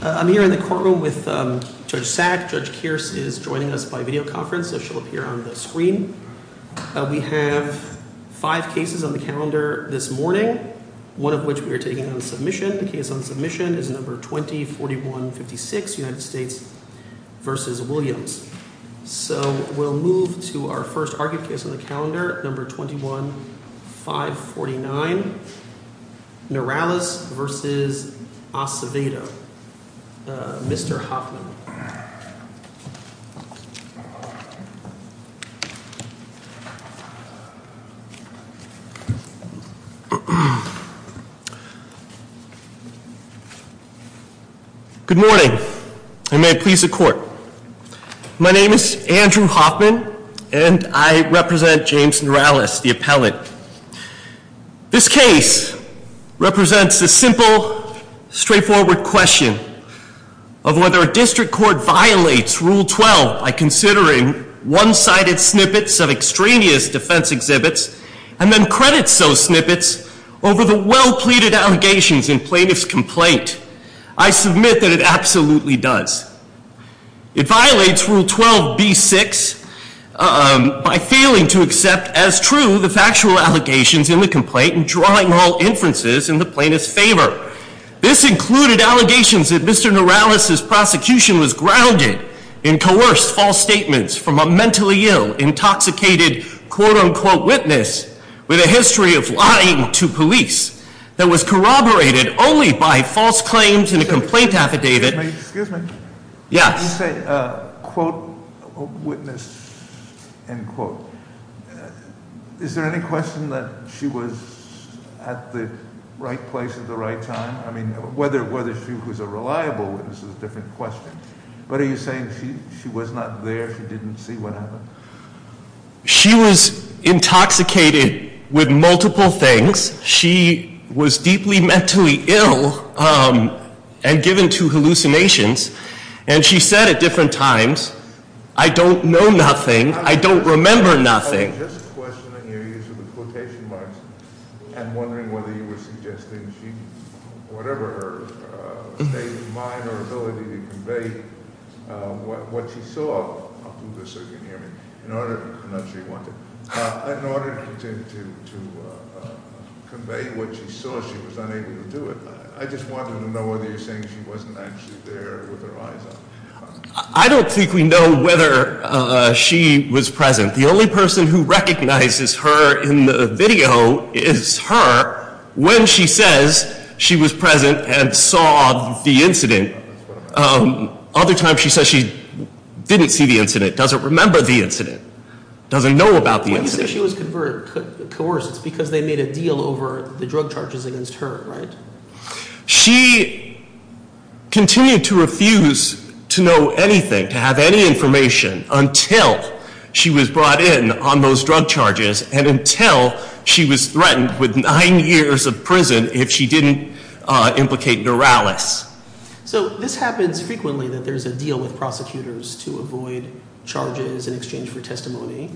I'm here in the courtroom with Judge Sack. Judge Kearse is joining us by videoconference, so she'll appear on the screen. We have five cases on the calendar this morning, one of which we are taking on submission. The case on submission is No. 20-4156, United States v. Williams. So we'll move to our first argued case on the calendar, No. 21-549, Norales v. Acevedo. Mr. Hoffman. Good morning, and may it please the court. My name is Andrew Hoffman, and I represent James Norales, the appellate. This case represents a simple, straightforward question of whether a district court violates Rule 12 by considering one-sided snippets of extraneous defense exhibits and then credits those snippets over the well-pleaded allegations in plaintiff's complaint. I submit that it absolutely does. It violates Rule 12b-6 by failing to accept as true the factual allegations in the complaint and drawing all inferences in the plaintiff's favor. This included allegations that Mr. Norales' prosecution was grounded in coerced false statements from a mentally ill, intoxicated, quote-unquote, witness with a history of lying to police that was corroborated only by false claims in a complaint affidavit. Excuse me. Yes. You say, quote, witness, end quote. Is there any question that she was at the right place at the right time? I mean, whether she was a reliable witness is a different question. But are you saying she was not there, she didn't see what happened? She was intoxicated with multiple things. She was deeply mentally ill and given to hallucinations. And she said at different times, I don't know nothing. I don't remember nothing. I'm just questioning you using the quotation marks and wondering whether you were suggesting she, whatever her state of mind or ability to convey what she saw up to this, so you can hear me. I'm not sure you want to. In order to continue to convey what she saw, she was unable to do it. I just wanted to know whether you're saying she wasn't actually there with her eyes open. I don't think we know whether she was present. The only person who recognizes her in the video is her when she says she was present and saw the incident. Other times she says she didn't see the incident, doesn't remember the incident. Doesn't know about the incident. When you say she was coerced, it's because they made a deal over the drug charges against her, right? She continued to refuse to know anything, to have any information, until she was brought in on those drug charges and until she was threatened with nine years of prison if she didn't implicate Norales. So this happens frequently that there's a deal with prosecutors to avoid charges in exchange for testimony.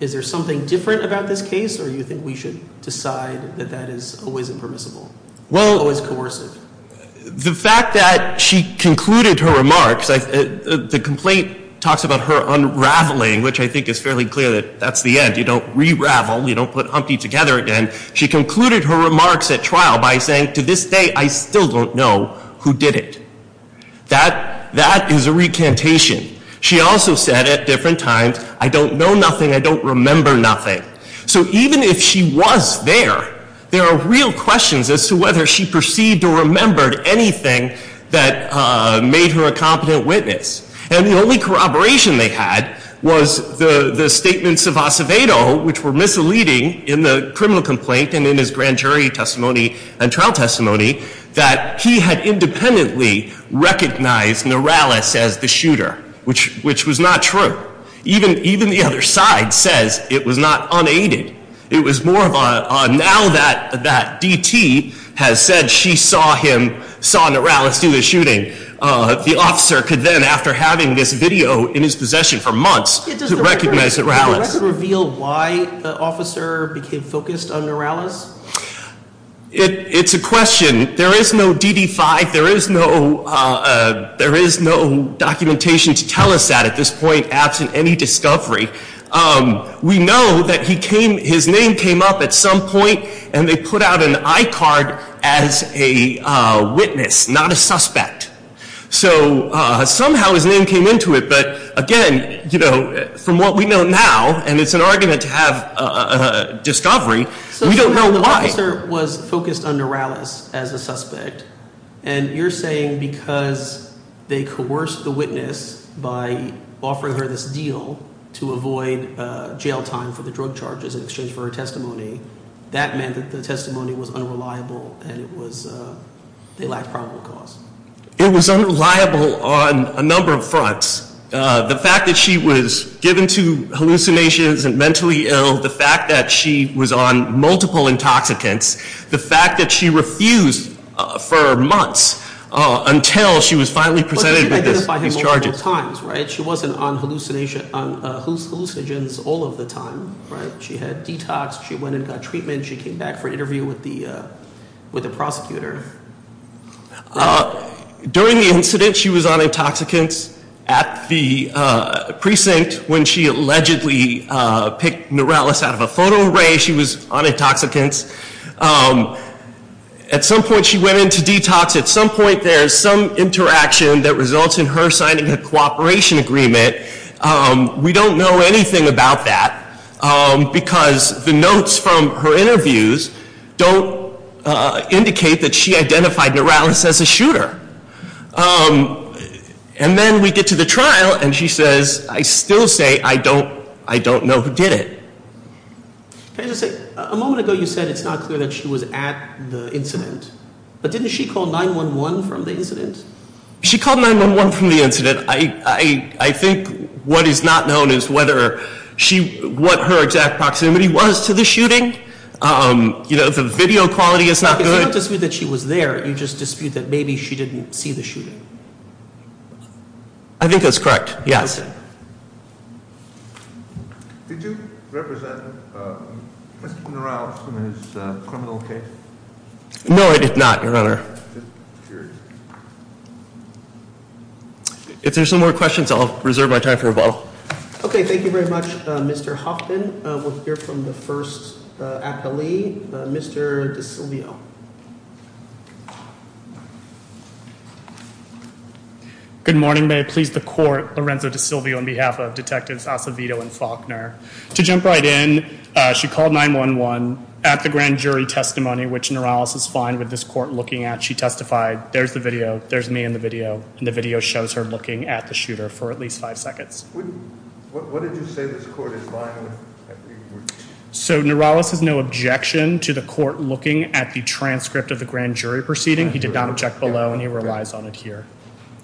Is there something different about this case or do you think we should decide that that is always impermissible? Well, or is it coercive? The fact that she concluded her remarks, the complaint talks about her unraveling, which I think is fairly clear that that's the end. You don't re-ravel. You don't put Humpty together again. She concluded her remarks at trial by saying, to this day, I still don't know who did it. That is a recantation. She also said at different times, I don't know nothing. I don't remember nothing. So even if she was there, there are real questions as to whether she perceived or remembered anything that made her a competent witness. And the only corroboration they had was the statements of Acevedo, which were misleading in the criminal complaint and in his grand jury testimony and trial testimony, that he had independently recognized Norales as the shooter, which was not true. Even the other side says it was not unaided. It was more of a now that D.T. has said she saw him, saw Norales do the shooting, the officer could then, after having this video in his possession for months, recognize Norales. Can you reveal why the officer became focused on Norales? It's a question. There is no DD-5. There is no documentation to tell us that at this point, absent any discovery. We know that his name came up at some point, and they put out an I-card as a witness, not a suspect. So somehow his name came into it. But again, from what we know now, and it's an argument to have a discovery, we don't know why. So the officer was focused on Norales as a suspect. And you're saying because they coerced the witness by offering her this deal to avoid jail time for the drug charges in exchange for her testimony, that meant that the testimony was unreliable and they lacked probable cause? It was unreliable on a number of fronts. The fact that she was given to hallucinations and mentally ill, the fact that she was on multiple intoxicants, the fact that she refused for months until she was finally presented with these charges. But you did identify him multiple times, right? She wasn't on hallucinogens all of the time, right? She had detox, she went and got treatment, she came back for interview with the prosecutor. During the incident, she was on intoxicants at the precinct when she allegedly picked Norales out of a photo array. She was on intoxicants. At some point, she went into detox. At some point, there's some interaction that results in her signing a cooperation agreement. We don't know anything about that because the notes from her interviews don't indicate that she identified Norales as a shooter. And then we get to the trial and she says, I still say I don't know who did it. A moment ago, you said it's not clear that she was at the incident, but didn't she call 911 from the incident? She called 911 from the incident. I think what is not known is what her exact proximity was to the shooting. The video quality is not good. You don't dispute that she was there, you just dispute that maybe she didn't see the shooting. I think that's correct, yes. Did you represent Mr. Norales in his criminal case? No, I did not, Your Honor. If there's no more questions, I'll reserve my time for rebuttal. Okay, thank you very much, Mr. Huffman. We'll hear from the first accolade, Mr. DeSilvio. Good morning, may it please the court, Lorenzo DeSilvio, on behalf of Detectives Acevedo and Faulkner. To jump right in, she called 911 at the grand jury testimony, which Norales is fine with this court looking at. She testified, there's the video, there's me in the video, and the video shows her looking at the shooter for at least five seconds. What did you say this court is fine with? So Norales has no objection to the court looking at the transcript of the grand jury proceeding. He did not object below, and he relies on it here.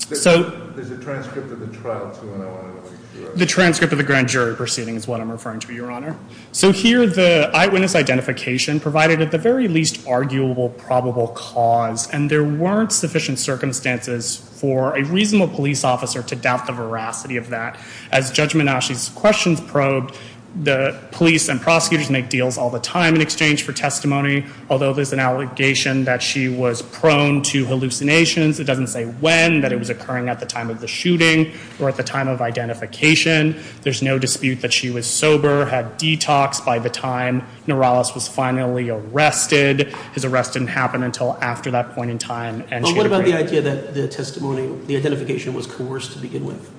There's a transcript of the trial, too, and I want to make sure of that. The transcript of the grand jury proceeding is what I'm referring to, Your Honor. So here, the eyewitness identification provided at the very least arguable probable cause, and there weren't sufficient circumstances for a reasonable police officer to doubt the veracity of that. As Judge Menasche's questions probed, the police and prosecutors make deals all the time in exchange for testimony, although there's an allegation that she was prone to hallucinations. It doesn't say when, that it was occurring at the time of the shooting or at the time of identification. There's no dispute that she was sober, had detoxed by the time Norales was finally arrested. His arrest didn't happen until after that point in time. But what about the idea that the testimony, the identification was coerced to begin with?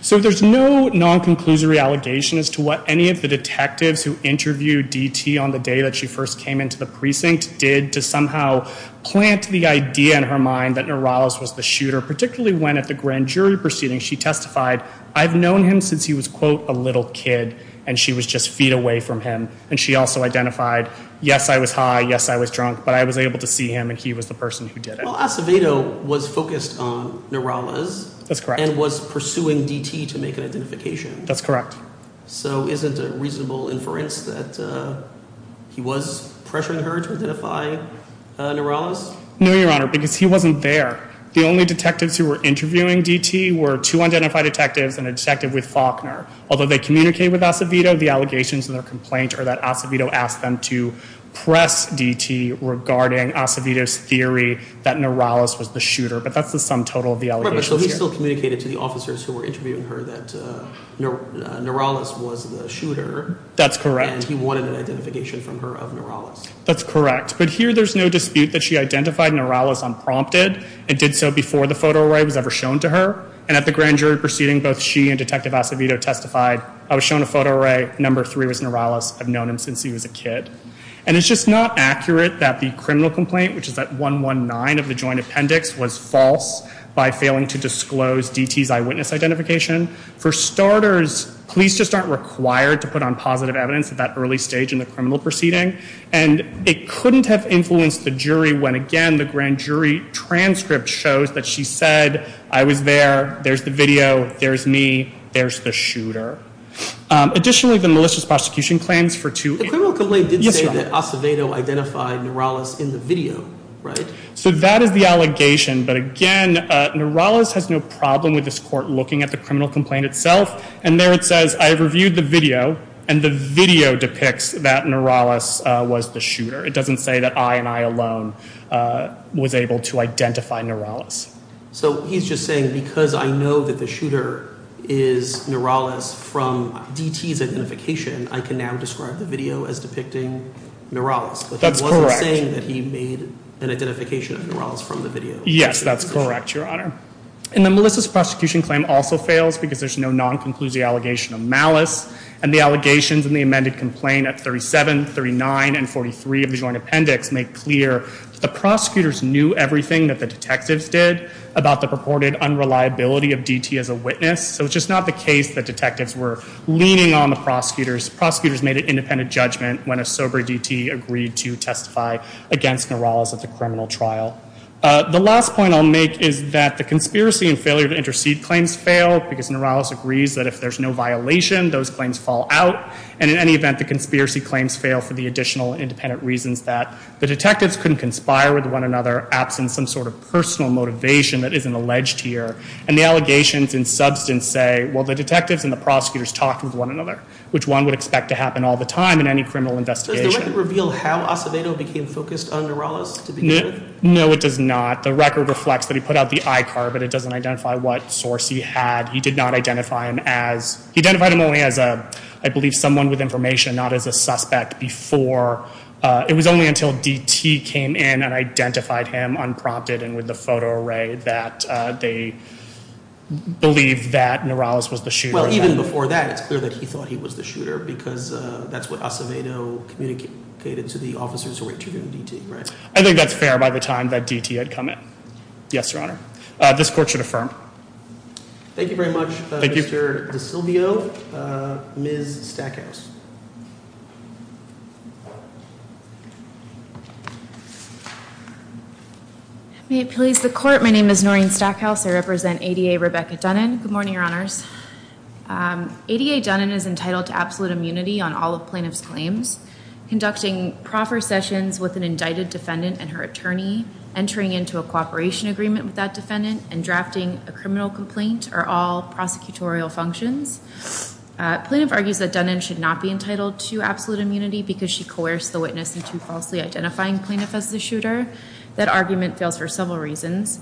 So there's no non-conclusory allegation as to what any of the detectives who interviewed D.T. on the day that she first came into the precinct did to somehow plant the idea in her mind that Norales was the shooter, particularly when at the grand jury proceeding she testified, I've known him since he was, quote, a little kid, and she was just feet away from him. And she also identified, yes, I was high, yes, I was drunk, but I was able to see him, and he was the person who did it. Well, Acevedo was focused on Norales. That's correct. And was pursuing D.T. to make an identification. That's correct. So isn't it reasonable inference that he was pressuring her to identify Norales? No, Your Honor, because he wasn't there. The only detectives who were interviewing D.T. were two identified detectives and a detective with Faulkner. Although they communicated with Acevedo, the allegations in their complaint are that Acevedo asked them to press D.T. regarding Acevedo's theory that Norales was the shooter. But that's the sum total of the allegations here. So he still communicated to the officers who were interviewing her that Norales was the shooter. That's correct. And he wanted an identification from her of Norales. That's correct. But here there's no dispute that she identified Norales unprompted and did so before the photo array was ever shown to her. And at the grand jury proceeding, both she and Detective Acevedo testified, I was shown a photo array, number three was Norales, I've known him since he was a kid. And it's just not accurate that the criminal complaint, which is that 119 of the joint appendix, was false by failing to disclose D.T.'s eyewitness identification. For starters, police just aren't required to put on positive evidence at that early stage in the criminal proceeding. And it couldn't have influenced the jury when, again, the grand jury transcript shows that she said, I was there, there's the video, there's me, there's the shooter. Additionally, the malicious prosecution claims for two- The criminal complaint did say that Acevedo identified Norales in the video, right? So that is the allegation. But, again, Norales has no problem with this court looking at the criminal complaint itself. And there it says, I reviewed the video, and the video depicts that Norales was the shooter. It doesn't say that I and I alone was able to identify Norales. So he's just saying because I know that the shooter is Norales from D.T.'s identification, I can now describe the video as depicting Norales. That's correct. But he wasn't saying that he made an identification of Norales from the video. Yes, that's correct, Your Honor. And the malicious prosecution claim also fails because there's no non-conclusive allegation of malice. And the allegations in the amended complaint at 37, 39, and 43 of the joint appendix make clear that the prosecutors knew everything that the detectives did about the purported unreliability of D.T. as a witness. So it's just not the case that detectives were leaning on the prosecutors. Prosecutors made an independent judgment when a sober D.T. agreed to testify against Norales at the criminal trial. The last point I'll make is that the conspiracy and failure to intercede claims fail because Norales agrees that if there's no violation, those claims fall out. And in any event, the conspiracy claims fail for the additional independent reasons that the detectives couldn't conspire with one another absent some sort of personal motivation that isn't alleged here. And the allegations in substance say, well, the detectives and the prosecutors talked with one another, which one would expect to happen all the time in any criminal investigation. Does the record reveal how Acevedo became focused on Norales to begin with? No, it does not. The record reflects that he put out the I-card, but it doesn't identify what source he had. He did not identify him as – he identified him only as, I believe, someone with information, not as a suspect before. It was only until D.T. came in and identified him unprompted and with the photo array that they believed that Norales was the shooter. Well, even before that, it's clear that he thought he was the shooter because that's what Acevedo communicated to the officers who were interrogating D.T., right? I think that's fair by the time that D.T. had come in. Yes, Your Honor. This court should affirm. Thank you very much, Mr. DeSilvio. Ms. Stackhouse. May it please the court. My name is Noreen Stackhouse. I represent ADA Rebecca Dunnan. Good morning, Your Honors. ADA Dunnan is entitled to absolute immunity on all of plaintiff's claims. Conducting proper sessions with an indicted defendant and her attorney, entering into a cooperation agreement with that defendant, and drafting a criminal complaint are all prosecutorial functions. Plaintiff argues that Dunnan should not be entitled to absolute immunity because she coerced the witness into falsely identifying plaintiff as the shooter. That argument fails for several reasons.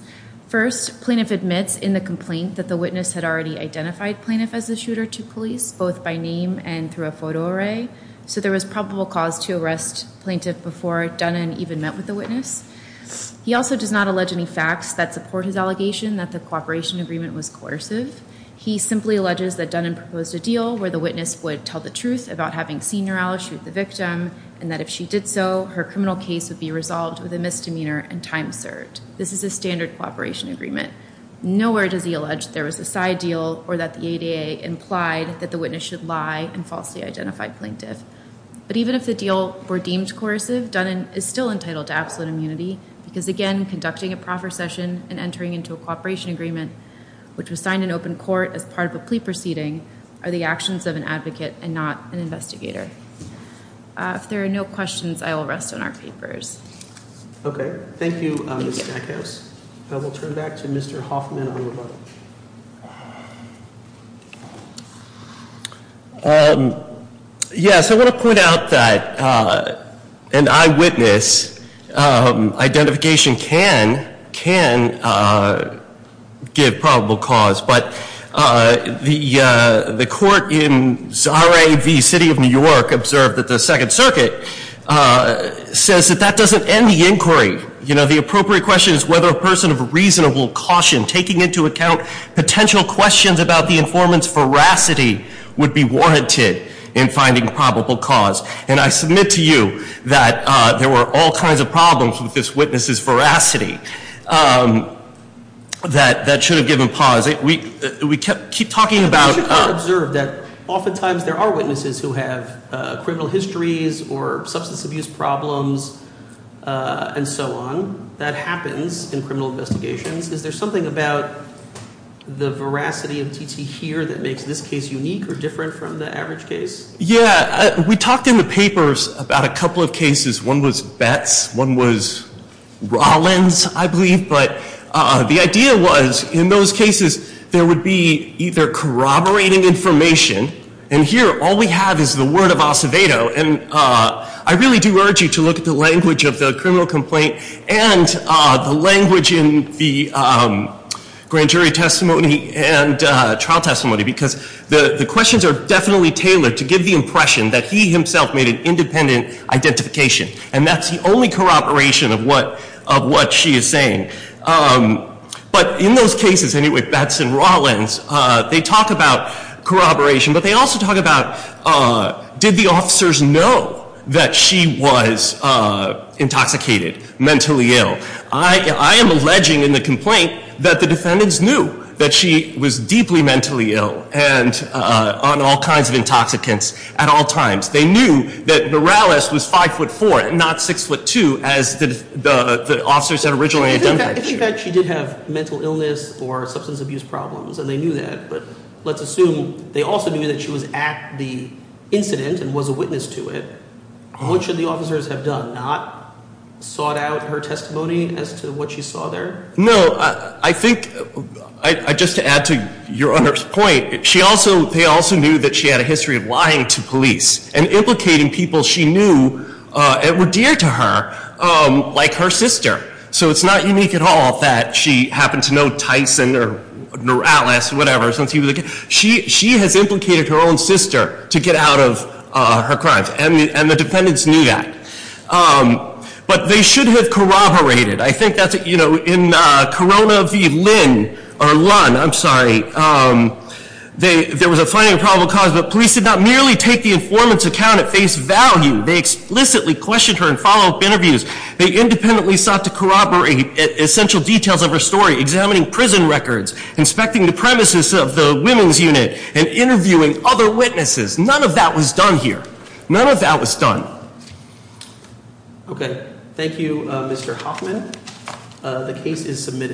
First, plaintiff admits in the complaint that the witness had already identified plaintiff as the shooter to police, both by name and through a photo array. So there was probable cause to arrest plaintiff before Dunnan even met with the witness. He also does not allege any facts that support his allegation that the cooperation agreement was coercive. He simply alleges that Dunnan proposed a deal where the witness would tell the truth about having seen Norelle shoot the victim, and that if she did so, her criminal case would be resolved with a misdemeanor and time served. This is a standard cooperation agreement. Nowhere does he allege there was a side deal or that the ADA implied that the witness should lie and falsely identify plaintiff. But even if the deal were deemed coercive, Dunnan is still entitled to absolute immunity because, again, conducting a proffer session and entering into a cooperation agreement, which was signed in open court as part of a plea proceeding, are the actions of an advocate and not an investigator. If there are no questions, I will rest on our papers. Okay. Thank you, Ms. Stackhouse. I will turn it back to Mr. Hoffman on rebuttal. Yes, I want to point out that an eyewitness identification can give probable cause. But the court in Zara v. City of New York observed that the Second Circuit says that that doesn't end the inquiry. You know, the appropriate question is whether a person of reasonable caution, taking into account potential questions about the informant's veracity, would be warranted in finding probable cause. And I submit to you that there were all kinds of problems with this witness's veracity. That should have given pause. We keep talking about- You should have observed that oftentimes there are witnesses who have criminal histories or substance abuse problems and so on. That happens in criminal investigations. Is there something about the veracity of T.T. here that makes this case unique or different from the average case? Yeah, we talked in the papers about a couple of cases. One was Betz. One was Rollins, I believe. But the idea was in those cases there would be either corroborating information. And here all we have is the word of Acevedo. And I really do urge you to look at the language of the criminal complaint and the language in the grand jury testimony and trial testimony because the questions are definitely tailored to give the impression that he himself made an independent identification. And that's the only corroboration of what she is saying. But in those cases anyway, Betz and Rollins, they talk about corroboration. But they also talk about did the officers know that she was intoxicated, mentally ill? I am alleging in the complaint that the defendants knew that she was deeply mentally ill and on all kinds of intoxicants at all times. They knew that Morales was 5'4", not 6'2", as the officers had originally identified her. I think that she did have mental illness or substance abuse problems, and they knew that. But let's assume they also knew that she was at the incident and was a witness to it. What should the officers have done? Not sought out her testimony as to what she saw there? No, I think just to add to Your Honor's point, they also knew that she had a history of lying to police and implicating people she knew that were dear to her like her sister. So it's not unique at all that she happened to know Tyson or Morales or whatever since he was a kid. She has implicated her own sister to get out of her crimes, and the defendants knew that. But they should have corroborated. I think that's, you know, in Corona v. Lynn or Lunn, I'm sorry, there was a finding of probable cause, but police did not merely take the informant's account at face value. They explicitly questioned her in follow-up interviews. They independently sought to corroborate essential details of her story, examining prison records, inspecting the premises of the women's unit, and interviewing other witnesses. None of that was done here. None of that was done. Okay. Thank you, Mr. Hoffman. The case is submitted.